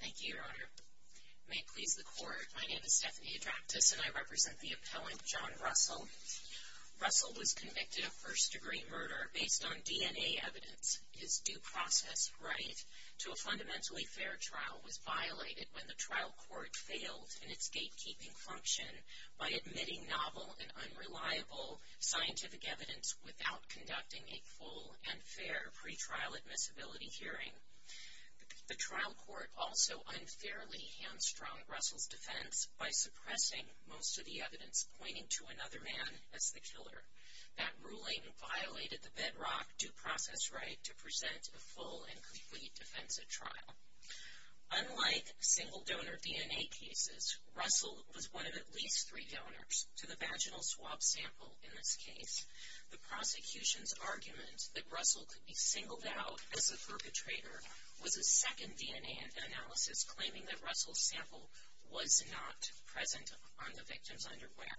Thank you, Your Honor. May it please the Court, my name is Stephanie Adraptis and I represent the appellant John Russell. Russell was convicted of first-degree murder based on DNA evidence. His due process right to a fundamentally fair trial was violated when the trial court failed in its gatekeeping function by admitting novel and unreliable scientific evidence without conducting a full and fair pretrial admissibility hearing. The trial court also unfairly hamstrung Russell's defense by suppressing most of the evidence pointing to another man as the killer. That ruling violated the bedrock due process right to present a full and complete defensive trial. Unlike single-donor DNA cases, Russell was one of at least three donors to the vaginal swab sample in this case. The prosecution's argument that Russell could be singled out as the perpetrator was a second DNA analysis claiming that Russell's sample was not present on the victim's underwear.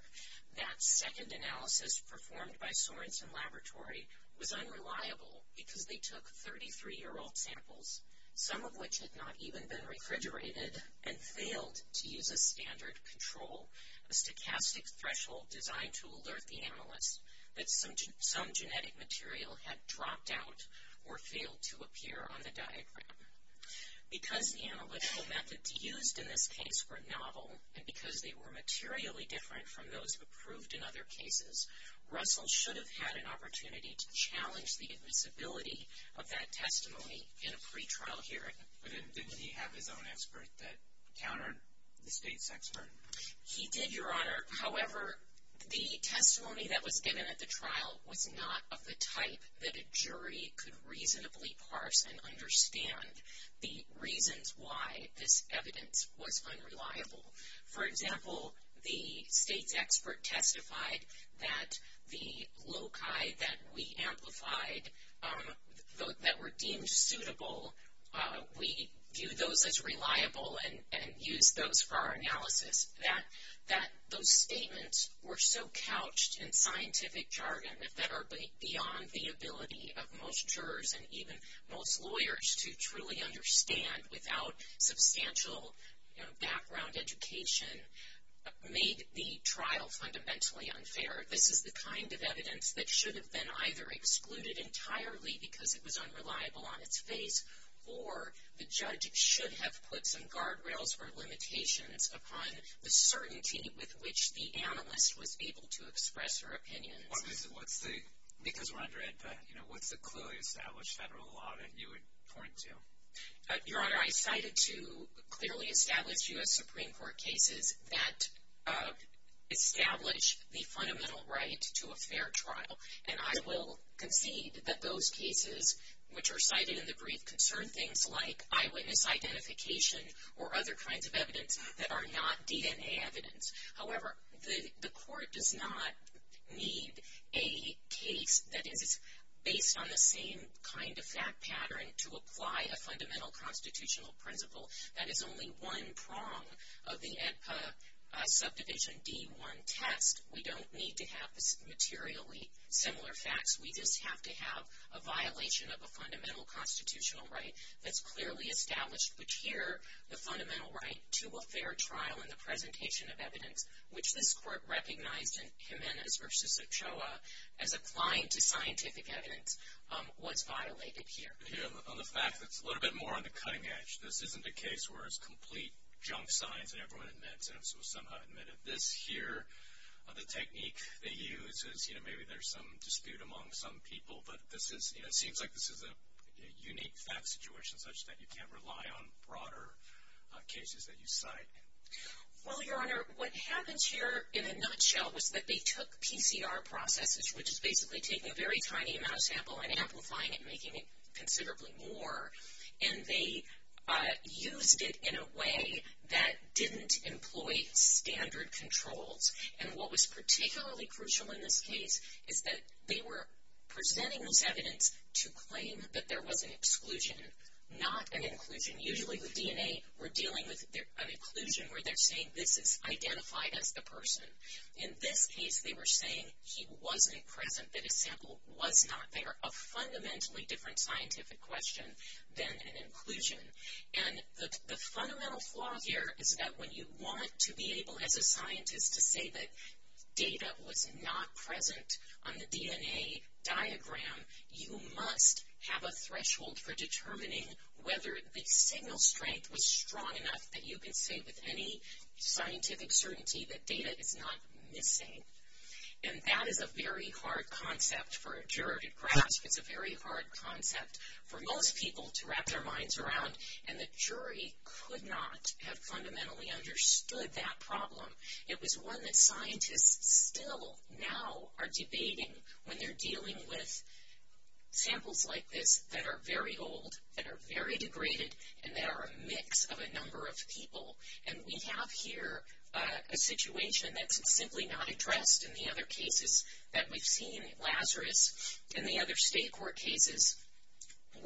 That second analysis performed by Sorensen Laboratory was unreliable because they took 33-year-old samples, some of which had not even been refrigerated, and failed to use a standard control, a stochastic threshold designed to alert the analyst that some genetic material had dropped out or failed to appear on the diagram. Because the analytical methods used in this case were novel, and because they were materially different from those approved in other cases, Russell should have had an opportunity to challenge the admissibility of that testimony in a pretrial hearing. But didn't he have his own expert that countered the state's expert? He did, Your Honor. However, the testimony that was given at the trial was not of the type that a jury could reasonably parse and understand the reasons why this evidence was unreliable. For example, the state's expert testified that the loci that we amplified that were deemed suitable, we viewed those as reliable and used those for our analysis. That those statements were so couched in scientific jargon that are beyond the ability of most jurors and even most lawyers to truly understand without substantial background education, made the trial fundamentally unfair. This is the kind of evidence that should have been either excluded entirely because it was unreliable on its face, or the judge should have put some guardrails or limitations upon the certainty with which the analyst was able to express her opinions. Because we're under AEDPA, what's the clearly established federal law that you would point to? Your Honor, I cited two clearly established U.S. Supreme Court cases that establish the fundamental right to a fair trial. And I will concede that those cases which are cited in the brief concern things like eyewitness identification or other kinds of evidence that are not DNA evidence. However, the court does not need a case that is based on the same kind of fact pattern to apply a fundamental constitutional principle. That is only one prong of the AEDPA Subdivision D-1 test. We don't need to have materially similar facts. We just have to have a violation of a fundamental constitutional right that's clearly established. But here, the fundamental right to a fair trial and the presentation of evidence, which this court recognized in Jimenez v. Ochoa as applying to scientific evidence, was violated here. On the fact that it's a little bit more on the cutting edge, this isn't a case where it's complete junk science and everyone admits it. This here, the technique they use is, you know, maybe there's some dispute among some people. But this is, you know, it seems like this is a unique fact situation such that you can't rely on broader cases that you cite. Well, Your Honor, what happens here in a nutshell was that they took PCR processes, which is basically taking a very tiny amount of sample and amplifying it, making it considerably more, and they used it in a way that didn't employ standard controls. And what was particularly crucial in this case is that they were presenting this evidence to claim that there was an exclusion, not an inclusion. Usually with DNA, we're dealing with an inclusion where they're saying this is identified as the person. In this case, they were saying he wasn't present, that his sample was not there, a fundamentally different scientific question than an inclusion. And the fundamental flaw here is that when you want to be able, as a scientist, to say that data was not present on the DNA diagram, you must have a threshold for determining whether the signal strength was strong enough that you can say with any scientific certainty that data is not missing. And that is a very hard concept for a juror to grasp. It's a very hard concept for most people to wrap their minds around. And the jury could not have fundamentally understood that problem. It was one that scientists still now are debating when they're dealing with samples like this that are very old, that are very degraded, and that are a mix of a number of people. And we have here a situation that's simply not addressed in the other cases that we've seen. Lazarus and the other state court cases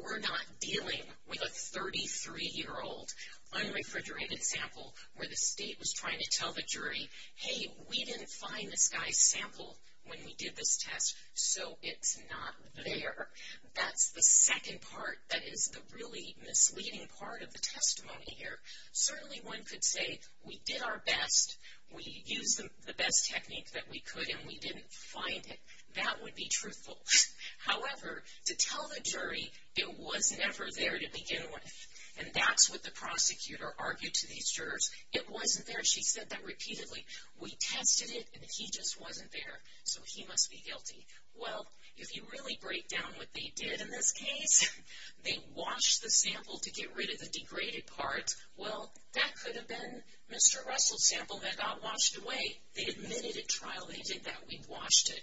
were not dealing with a 33-year-old unrefrigerated sample where the state was trying to tell the jury, hey, we didn't find this guy's sample when we did this test, so it's not there. That's the second part that is the really misleading part of the testimony here. Certainly one could say we did our best, we used the best technique that we could, and we didn't find it. That would be truthful. However, to tell the jury it was never there to begin with, and that's what the prosecutor argued to these jurors. It wasn't there. She said that repeatedly. We tested it, and he just wasn't there, so he must be guilty. Well, if you really break down what they did in this case, they washed the sample to get rid of the degraded parts. Well, that could have been Mr. Russell's sample that got washed away. They admitted at trial they did that. We washed it.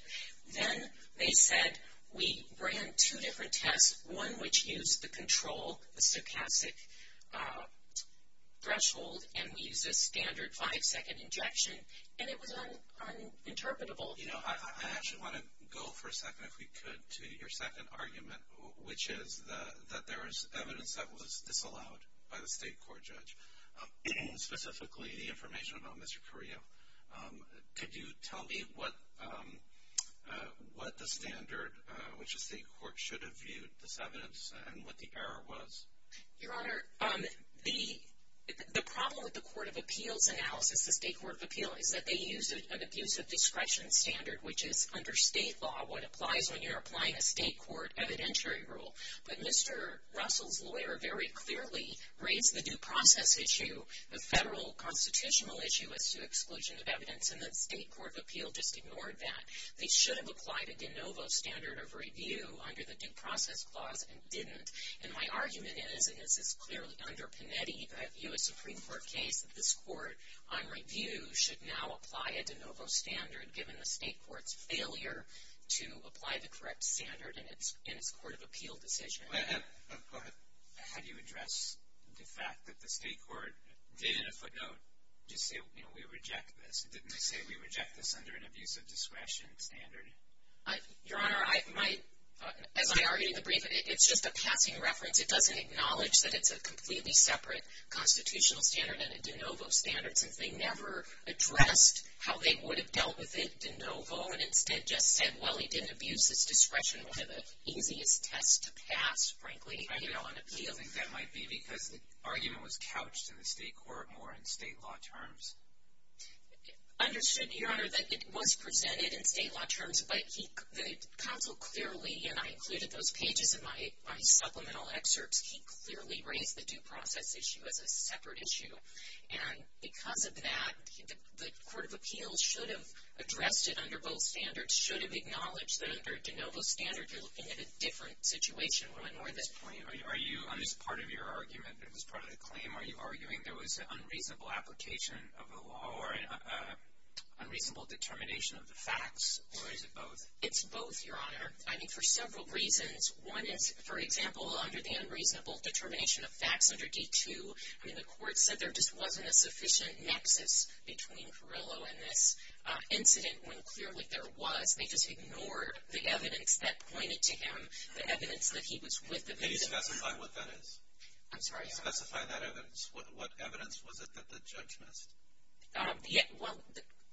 Then they said we ran two different tests, one which used the control, the stochastic threshold, and we used a standard five-second injection, and it was uninterpretable. You know, I actually want to go for a second, if we could, to your second argument, which is that there is evidence that was disallowed by the state court judge, specifically the information about Mr. Carrillo. Could you tell me what the standard which the state court should have viewed this evidence and what the error was? Your Honor, the problem with the court of appeals analysis, the state court of appeals, is that they use an abuse of discretion standard, which is under state law what applies when you're applying a state court evidentiary rule. But Mr. Russell's lawyer very clearly raised the due process issue, the federal constitutional issue, as to exclusion of evidence, and the state court of appeals just ignored that. They should have applied a de novo standard of review under the due process clause and didn't. And my argument is, and this is clearly under Panetti, the U.S. Supreme Court case, that this court, on review, should now apply a de novo standard, given the state court's failure to apply the correct standard in its court of appeal decision. Go ahead. How do you address the fact that the state court did, in a footnote, just say, you know, we reject this? Didn't they say we reject this under an abuse of discretion standard? Your Honor, as I argued in the brief, it's just a passing reference. It doesn't acknowledge that it's a completely separate constitutional standard and a de novo standard, since they never addressed how they would have dealt with it de novo, and instead just said, well, he didn't abuse his discretion, one of the easiest tests to pass, frankly, you know, on appeals. I think that might be because the argument was couched in the state court more in state law terms. Understood, Your Honor, that it was presented in state law terms, but the counsel clearly, and I included those pages in my supplemental excerpts, he clearly raised the due process issue as a separate issue. And because of that, the court of appeals should have addressed it under both standards, should have acknowledged that under a de novo standard, you're looking at a different situation. One more at this point. Are you, on this part of your argument, this part of the claim, are you arguing there was an unreasonable application of the law or an unreasonable determination of the facts, or is it both? It's both, Your Honor. I think for several reasons. One is, for example, under the unreasonable determination of facts under D2, I mean, the court said there just wasn't a sufficient nexus between Carrillo and this incident, when clearly there was. They just ignored the evidence that pointed to him, the evidence that he was with the victim. Can you specify what that is? I'm sorry? Can you specify that evidence? What evidence was it that the judge missed? Well,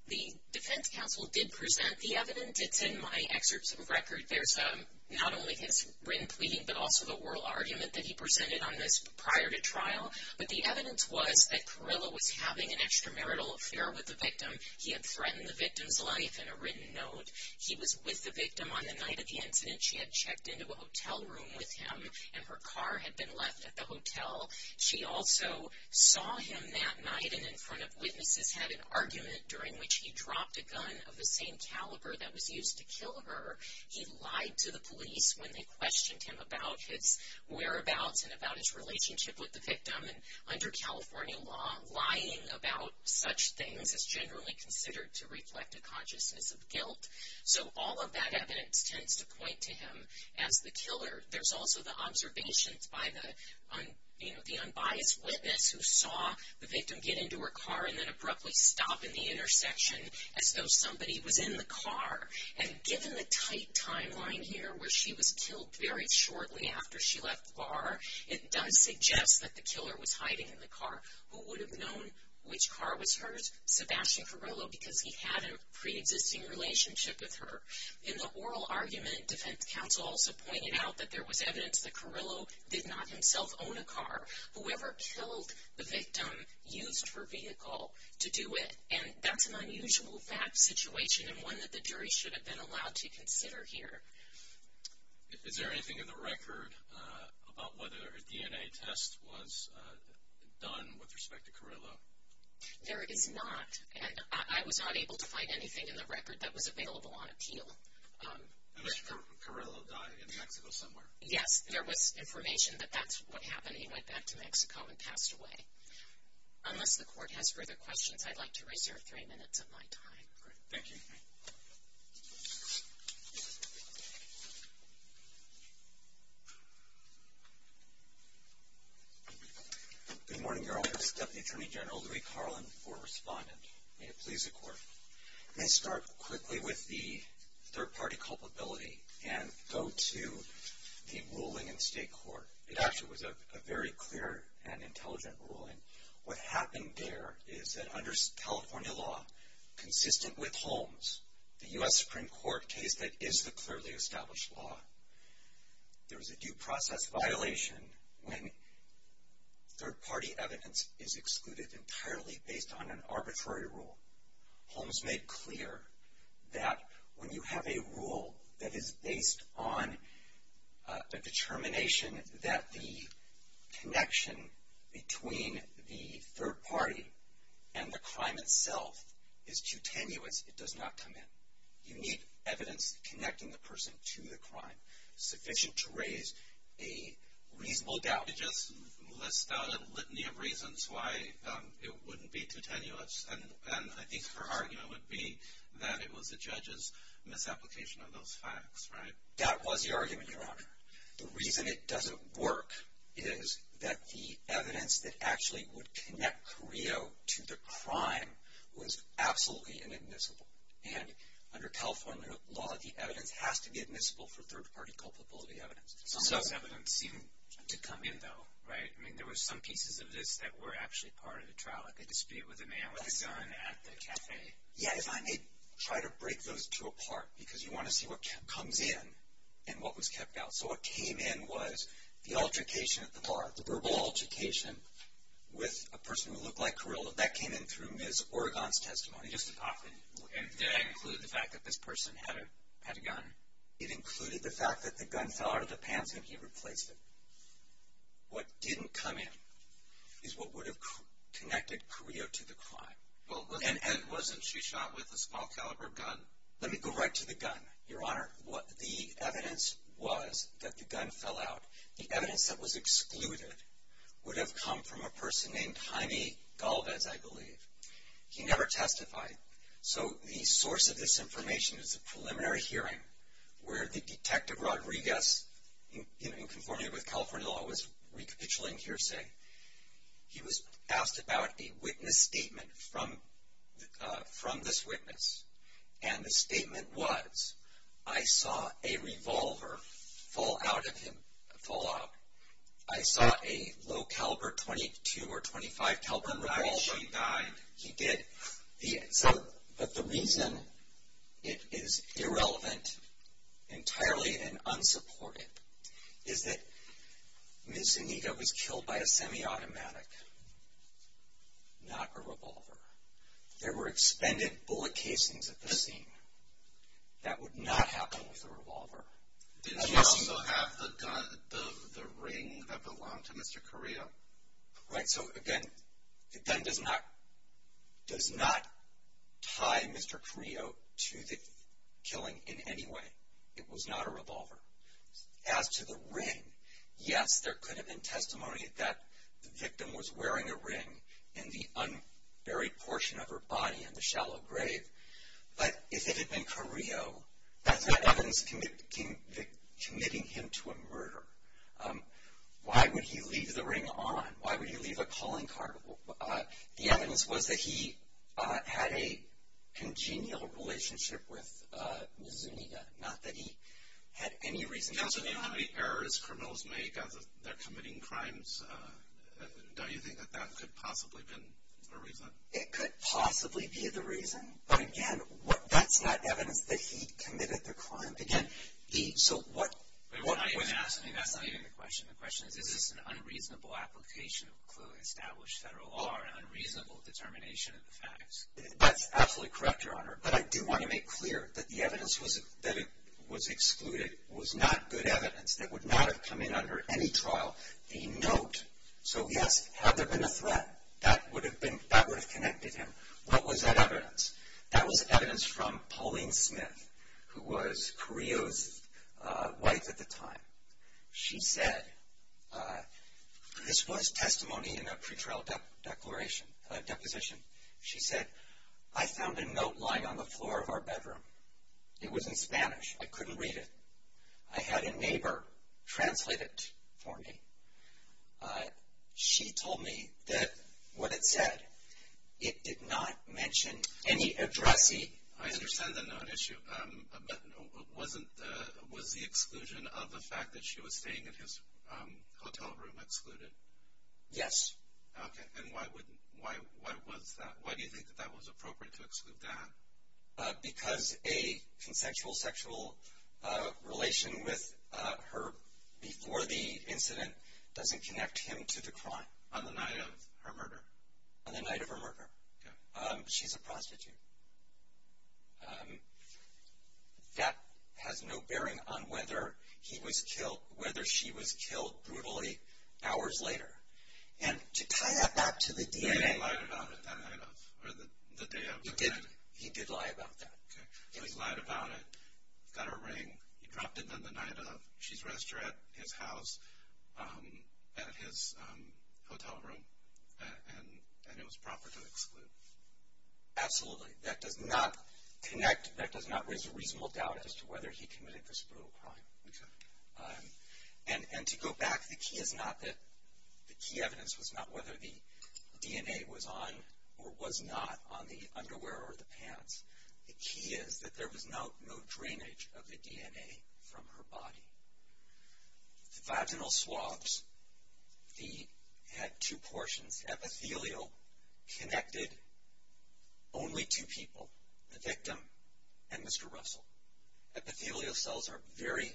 the defense counsel did present the evidence. It's in my excerpts of record. There's not only his written pleading, but also the oral argument that he presented on this prior to trial. But the evidence was that Carrillo was having an extramarital affair with the victim. He had threatened the victim's life in a written note. He was with the victim on the night of the incident. She had checked into a hotel room with him, and her car had been left at the hotel. She also saw him that night and in front of witnesses, had an argument during which he dropped a gun of the same caliber that was used to kill her. He lied to the police when they questioned him about his whereabouts and about his relationship with the victim. And under California law, lying about such things is generally considered to reflect a consciousness of guilt. So all of that evidence tends to point to him as the killer. There's also the observations by the unbiased witness who saw the victim get into her car and then abruptly stop in the intersection as though somebody was in the car. And given the tight timeline here where she was killed very shortly after she left the bar, it does suggest that the killer was hiding in the car. Who would have known which car was hers? Sebastian Carrillo because he had a preexisting relationship with her. In the oral argument, defense counsel also pointed out that there was evidence that Carrillo did not himself own a car. Whoever killed the victim used her vehicle to do it, and that's an unusual fact situation and one that the jury should have been allowed to consider here. Is there anything in the record about whether a DNA test was done with respect to Carrillo? There is not. I was not able to find anything in the record that was available on appeal. Unless Carrillo died in Mexico somewhere. Yes, there was information that that's what happened. He went back to Mexico and passed away. Unless the court has further questions, I'd like to reserve three minutes of my time. Great. Thank you. Good morning, Your Honor. Deputy Attorney General Louis Carlin, former respondent. May it please the court. Let me start quickly with the third-party culpability and go to the ruling in state court. It actually was a very clear and intelligent ruling. What happened there is that under California law, consistent with Holmes, the U.S. Supreme Court case that is the clearly established law, there was a due process violation when third-party evidence is excluded entirely based on an arbitrary rule. Holmes made clear that when you have a rule that is based on a determination that the connection between the third party and the crime itself is too tenuous, it does not come in. You need evidence connecting the person to the crime sufficient to raise a reasonable doubt. You just list out a litany of reasons why it wouldn't be too tenuous, and I think her argument would be that it was the judge's misapplication of those facts, right? That was the argument, Your Honor. The reason it doesn't work is that the evidence that actually would connect Carrillo to the crime was absolutely inadmissible, and under California law, the evidence has to be admissible for third-party culpability evidence. Some of this evidence seemed to come in, though, right? I mean, there were some pieces of this that were actually part of the trial, like a dispute with a man with his son at the cafe. Yeah, if I may try to break those two apart, because you want to see what comes in and what was kept out. So what came in was the altercation at the bar, the verbal altercation with a person who looked like Carrillo. That came in through Ms. Oregon's testimony. And did that include the fact that this person had a gun? It included the fact that the gun fell out of the pants and he replaced it. What didn't come in is what would have connected Carrillo to the crime. And wasn't she shot with a small caliber gun? Let me go right to the gun, Your Honor. The evidence was that the gun fell out. The evidence that was excluded would have come from a person named Jaime Galvez, I believe. He never testified. So the source of this information is a preliminary hearing where the Detective Rodriguez, in conforming with California law, was recapitulating hearsay. He was asked about a witness statement from this witness. And the statement was, I saw a revolver fall out of him, fall out. I saw a low caliber .22 or .25 caliber revolver. And I actually died. He did. But the reason it is irrelevant, entirely and unsupported, is that Ms. Zuniga was killed by a semi-automatic, not a revolver. There were expended bullet casings at the scene. That would not happen with a revolver. Did she also have the gun, the ring that belonged to Mr. Carrillo? Right, so again, the gun does not tie Mr. Carrillo to the killing in any way. It was not a revolver. As to the ring, yes, there could have been testimony that the victim was wearing a ring in the unburied portion of her body in the shallow grave. But if it had been Carrillo, that's not evidence committing him to a murder. Why would he leave the ring on? Why would he leave a calling card? The evidence was that he had a congenial relationship with Ms. Zuniga, not that he had any reason to kill her. And as to the many errors criminals make as they're committing crimes, don't you think that that could possibly have been a reason? It could possibly be the reason. But again, that's not evidence that he committed the crime. Again, so what... Wait, when I ask, that's not even the question. The question is, is this an unreasonable application of clearly established federal law or an unreasonable determination of the facts? That's absolutely correct, Your Honor. But I do want to make clear that the evidence that was excluded was not good evidence that would not have come in under any trial. The note, so yes, had there been a threat, that would have connected him. What was that evidence? That was evidence from Pauline Smith, who was Carrillo's wife at the time. She said, this was testimony in a pretrial deposition. She said, I found a note lying on the floor of our bedroom. It was in Spanish. I couldn't read it. I had a neighbor translate it for me. She told me that what it said, it did not mention any addressee. I understand the note issue, but was the exclusion of the fact that she was staying in his hotel room excluded? Yes. Okay. And why was that? Why do you think that that was appropriate to exclude that? Because a consensual sexual relation with her before the incident doesn't connect him to the crime. On the night of her murder? On the night of her murder. Okay. She's a prostitute. That has no bearing on whether he was killed, whether she was killed brutally hours later. And to tie that back to the DNA. He lied about it that night of, or the day of her murder? He did lie about that. Okay. He lied about it, got her ring. He dropped it on the night of. She's restored at his house, at his hotel room, and it was proper to exclude. Absolutely. That does not connect, that does not raise a reasonable doubt as to whether he committed this brutal crime. Okay. And to go back, the key is not that, the key evidence was not whether the DNA was on or was not on the underwear or the pants. The key is that there was no drainage of the DNA from her body. The vaginal swabs, he had two portions. Epithelial connected only two people, the victim and Mr. Russell. Epithelial cells are very,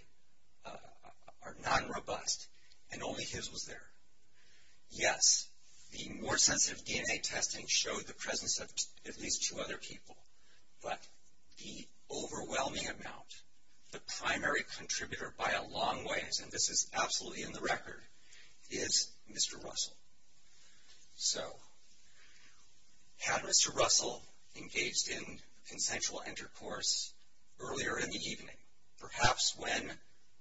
are non-robust, and only his was there. Yes, the more sensitive DNA testing showed the presence of at least two other people. But the overwhelming amount, the primary contributor by a long ways, and this is absolutely in the record, is Mr. Russell. So, had Mr. Russell engaged in consensual intercourse earlier in the evening, perhaps when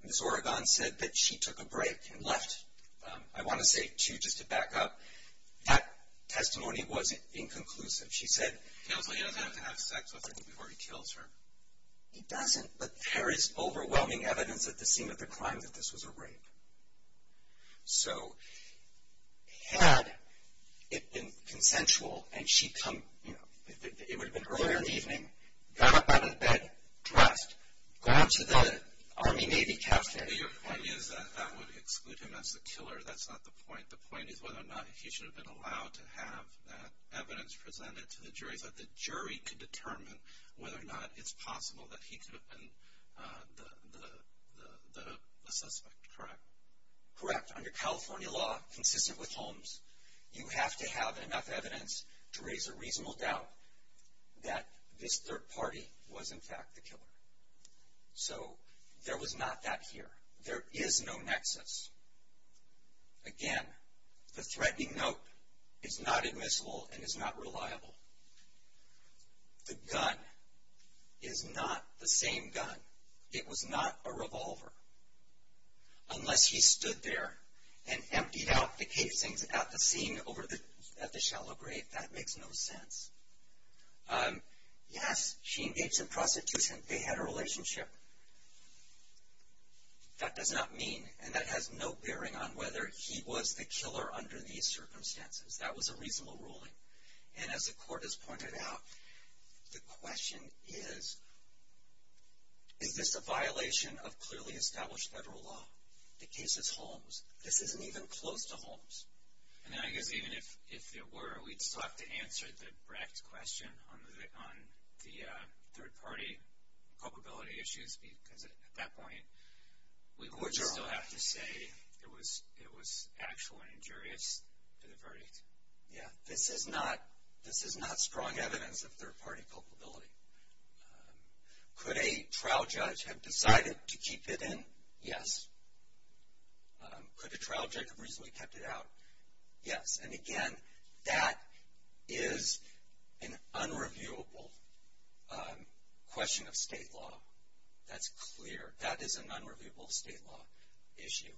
Ms. Oregon said that she took a break and left, I want to say two just to back up, that testimony wasn't inconclusive. She said... Counsel, he doesn't have to have sex with her before he kills her. He doesn't, but there is overwhelming evidence at the scene of the crime that this was a rape. So, had it been consensual and she'd come, you know, it would have been earlier in the evening, got up out of bed, dressed, gone to the Army, Navy, Captain... Your point is that that would exclude him as the killer, that's not the point. The point is whether or not he should have been allowed to have that evidence presented to the jury so that the jury could determine whether or not it's possible that he could have been the suspect, correct? Correct. Under California law, consistent with Holmes, you have to have enough evidence to raise a reasonable doubt that this third party was, in fact, the killer. So, there was not that here. There is no nexus. Again, the threatening note is not admissible and is not reliable. The gun is not the same gun. It was not a revolver. Unless he stood there and emptied out the casings at the scene at the shallow grave, that makes no sense. Yes, she engaged in prostitution. They had a relationship. That does not mean, and that has no bearing on whether he was the killer under these circumstances. That was a reasonable ruling. And as the court has pointed out, the question is, is this a violation of clearly established federal law? The case is Holmes. This isn't even close to Holmes. And then I guess even if it were, we'd still have to answer the Brecht question on the third party culpability issues because at that point we would still have to say it was actual and injurious to the verdict. Yeah, this is not strong evidence of third party culpability. Could a trial judge have decided to keep it in? Yes. Could a trial judge have reasonably kept it out? Yes. And, again, that is an unreviewable question of state law. That's clear. That is an unreviewable state law issue.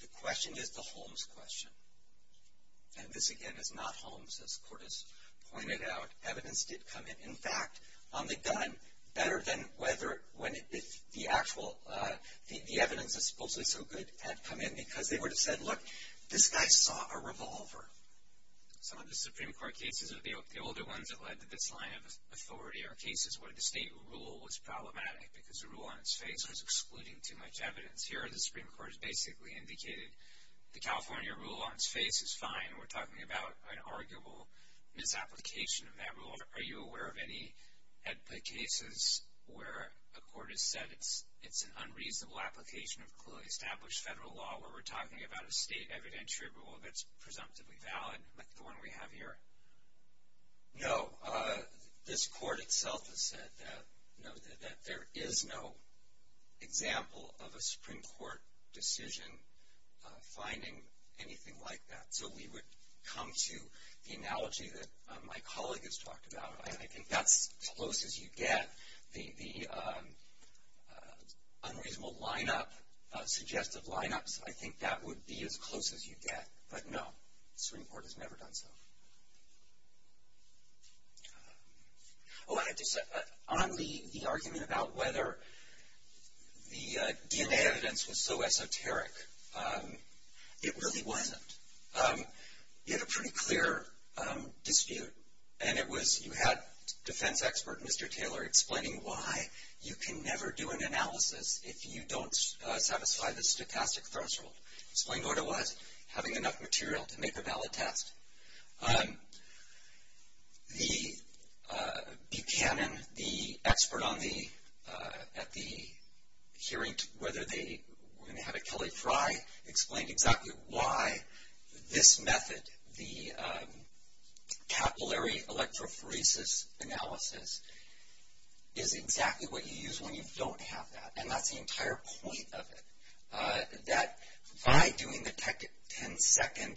The question is the Holmes question. And this, again, is not Holmes, as the court has pointed out. Evidence did come in. In fact, on the gun, better than when the actual evidence that's supposedly so good had come in because they would have said, look, this guy saw a revolver. Some of the Supreme Court cases are the older ones that led to this line of authority or cases where the state rule was problematic because the rule on its face was excluding too much evidence. Here the Supreme Court has basically indicated the California rule on its face is fine. We're talking about an arguable misapplication of that rule. Are you aware of any cases where a court has said it's an unreasonable application of clearly established federal law where we're talking about a state evidentiary rule that's presumptively valid like the one we have here? No. This court itself has said that there is no example of a Supreme Court decision finding anything like that. So we would come to the analogy that my colleague has talked about. I think that's as close as you get. The unreasonable lineup, suggestive lineups, I think that would be as close as you get. But no, the Supreme Court has never done so. On the argument about whether the DNA evidence was so esoteric, it really wasn't. You had a pretty clear dispute and you had defense expert Mr. Taylor explaining why you can never do an analysis if you don't satisfy the stochastic threshold. Explained what it was, having enough material to make a valid test. The Buchanan, the expert at the hearing, whether they were going to have a Kelly Fry, explained exactly why this method, the capillary electrophoresis analysis, is exactly what you use when you don't have that. And that's the entire point of it. That by doing the 10-second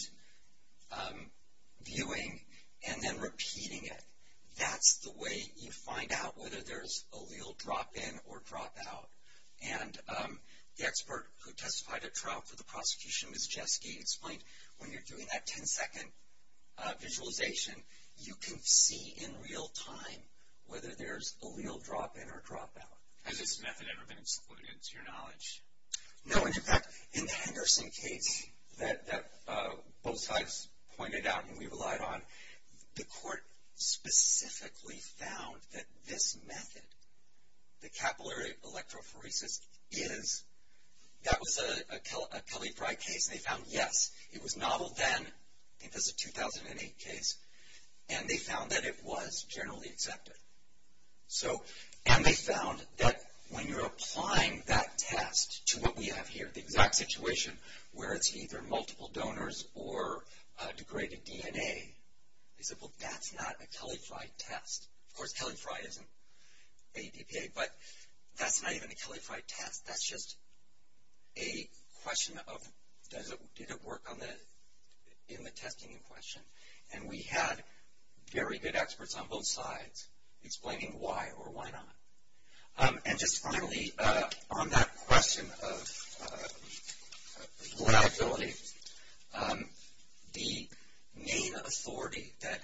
viewing and then repeating it, that's the way you find out whether there's allele drop-in or drop-out. And the expert who testified at trial for the prosecution, Ms. Jeske, explained when you're doing that 10-second visualization, you can see in real time whether there's allele drop-in or drop-out. Has this method ever been excluded to your knowledge? No. In fact, in the Henderson case that both sides pointed out and we relied on, the court specifically found that this method, the capillary electrophoresis, that was a Kelly Fry case and they found, yes, it was novel then. I think that's a 2008 case. And they found that it was generally accepted. And they found that when you're applying that test to what we have here, the exact situation where it's either multiple donors or degraded DNA, they said, well, that's not a Kelly Fry test. Of course, Kelly Fry isn't ADPA, but that's not even a Kelly Fry test. That's just a question of did it work in the testing in question. And we had very good experts on both sides explaining why or why not. And just finally, on that question of reliability, the main authority that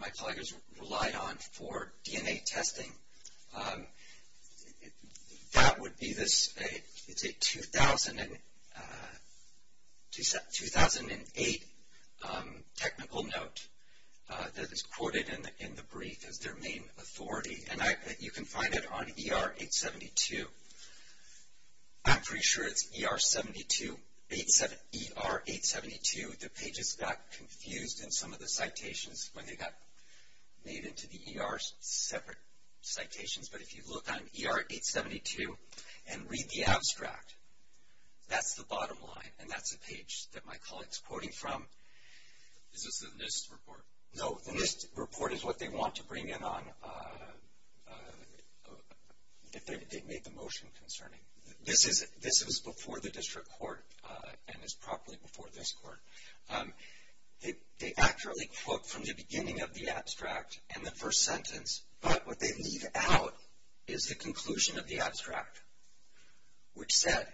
my colleagues relied on for DNA testing, that would be this, it's a 2008 technical note that is quoted in the brief as their main authority. And you can find it on ER 872. I'm pretty sure it's ER 872. The pages got confused in some of the citations when they got made into the ER separate citations. But if you look on ER 872 and read the abstract, that's the bottom line. And that's the page that my colleague is quoting from. Is this the NIST report? No, the NIST report is what they want to bring in on if they make the motion concerning. This was before the district court and is properly before this court. They accurately quote from the beginning of the abstract and the first sentence, but what they leave out is the conclusion of the abstract, which said,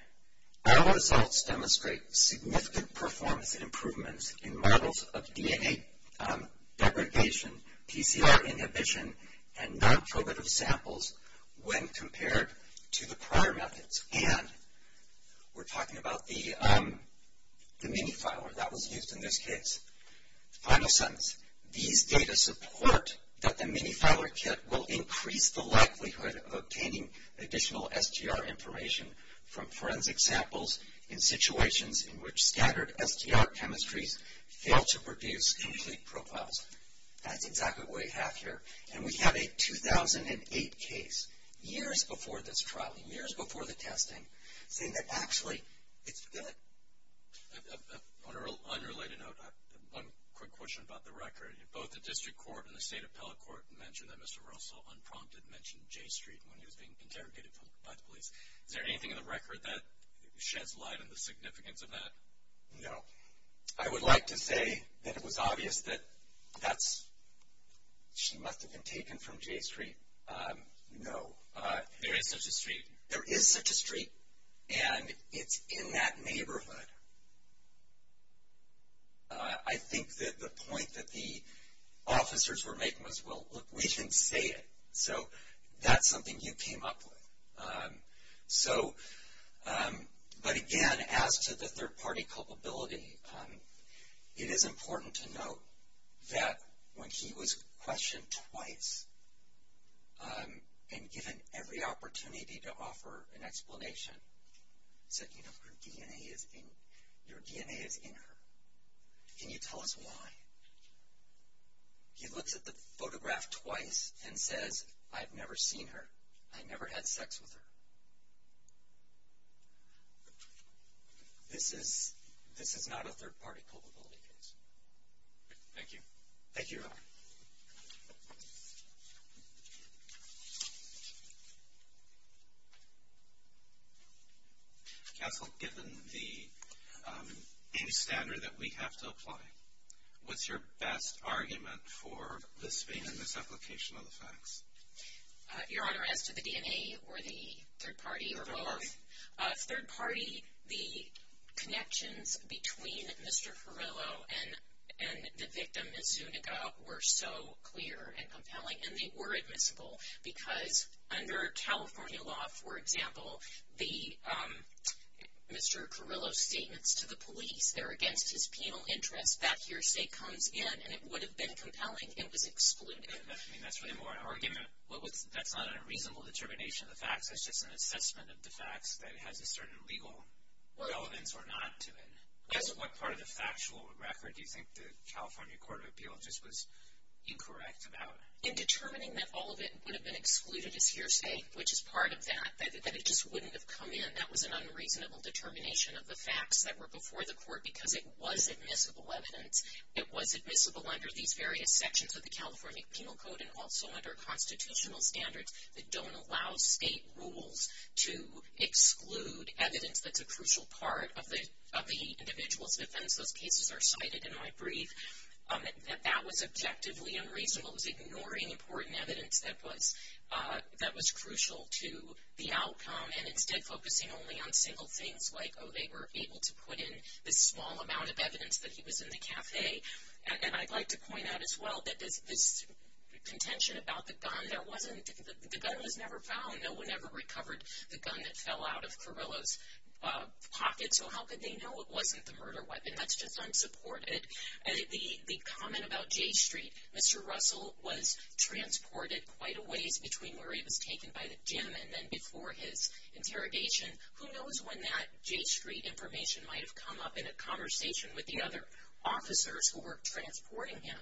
our results demonstrate significant performance improvements in models of DNA degradation, PCR inhibition, and non-probitive samples when compared to the prior methods. And we're talking about the mini-filer that was used in this case. The final sentence, these data support that the mini-filer kit will increase the likelihood of obtaining additional STR information from forensic samples in situations in which scattered STR chemistries fail to produce complete profiles. That's exactly what we have here. And we have a 2008 case, years before this trial, years before the testing, saying that actually it's good. On an unrelated note, one quick question about the record. Both the district court and the state appellate court mentioned that Mr. Russell unprompted mentioned J Street when he was being interrogated by the police. Is there anything in the record that sheds light on the significance of that? No. I would like to say that it was obvious that that's, she must have been taken from J Street. No. There is such a street? There is such a street, and it's in that neighborhood. I think that the point that the officers were making was, well, look, we didn't say it. So that's something you came up with. So, but again, as to the third-party culpability, it is important to note that when he was questioned twice and given every opportunity to offer an explanation, said, you know, her DNA is in, your DNA is in her. Can you tell us why? He looks at the photograph twice and says, I've never seen her. I never had sex with her. This is not a third-party culpability case. Thank you, Your Honor. Counsel, given the standard that we have to apply, what's your best argument for this being in this application of the facts? Your Honor, as to the DNA or the third-party or both, third-party, the connections between Mr. Carrillo and the victim, Ms. Zuniga, were so clear and compelling, and they were admissible, because under California law, for example, the Mr. Carrillo's statements to the police, they're against his penal interest. That hearsay comes in, and it would have been compelling. It was excluded. I mean, that's really more an argument. That's not a reasonable determination of the facts. That's just an assessment of the facts that has a certain legal relevance or not to it. As to what part of the factual record do you think the California Court of Appeal just was incorrect about? In determining that all of it would have been excluded as hearsay, which is part of that, that it just wouldn't have come in, that was an unreasonable determination of the facts that were before the court, because it was admissible evidence. It was admissible under these various sections of the California Penal Code and also under constitutional standards that don't allow state rules to exclude evidence that's a crucial part of the individual's defense. Those cases are cited in my brief. That that was objectively unreasonable. It was ignoring important evidence that was crucial to the outcome and instead focusing only on single things like, oh, they were able to put in this small amount of evidence that he was in the cafe. And I'd like to point out as well that this contention about the gun, the gun was never found. No one ever recovered the gun that fell out of Carrillo's pocket, so how could they know it wasn't the murder weapon? That's just unsupported. The comment about J Street, Mr. Russell was transported quite a ways between where he was taken by the gym and then before his interrogation. Who knows when that J Street information might have come up in a conversation with the other officers who were transporting him.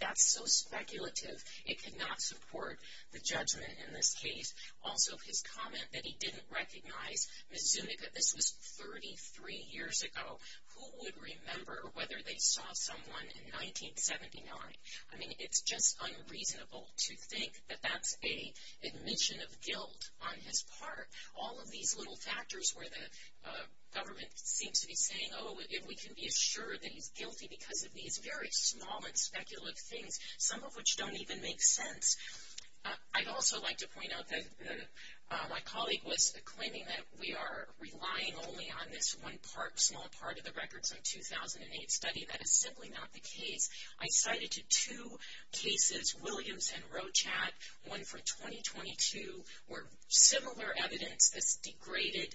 That's so speculative. It could not support the judgment in this case. Also, his comment that he didn't recognize Miss Zuniga. This was 33 years ago. Who would remember whether they saw someone in 1979? I mean, it's just unreasonable to think that that's an admission of guilt on his part. All of these little factors where the government seems to be saying, oh, if we can be assured that he's guilty because of these very small and speculative things, some of which don't even make sense. I'd also like to point out that my colleague was claiming that we are relying only on this one part, small part of the records from 2008 study. That is simply not the case. I cited two cases, Williams and Rochat. One from 2022 where similar evidence, this degraded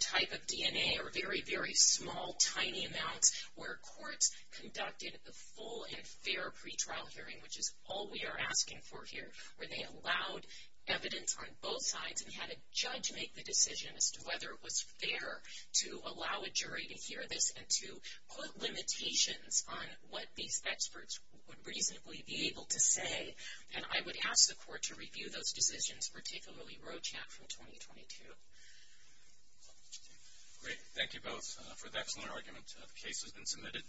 type of DNA, or very, very small, tiny amounts where courts conducted a full and fair pretrial hearing, which is all we are asking for here, where they allowed evidence on both sides and had a judge make the decision as to whether it was fair to allow a jury to hear this and to put limitations on what these experts would reasonably be able to say. And I would ask the court to review those decisions, particularly Rochat from 2022. Great. Thank you both for the excellent argument. The case has been submitted.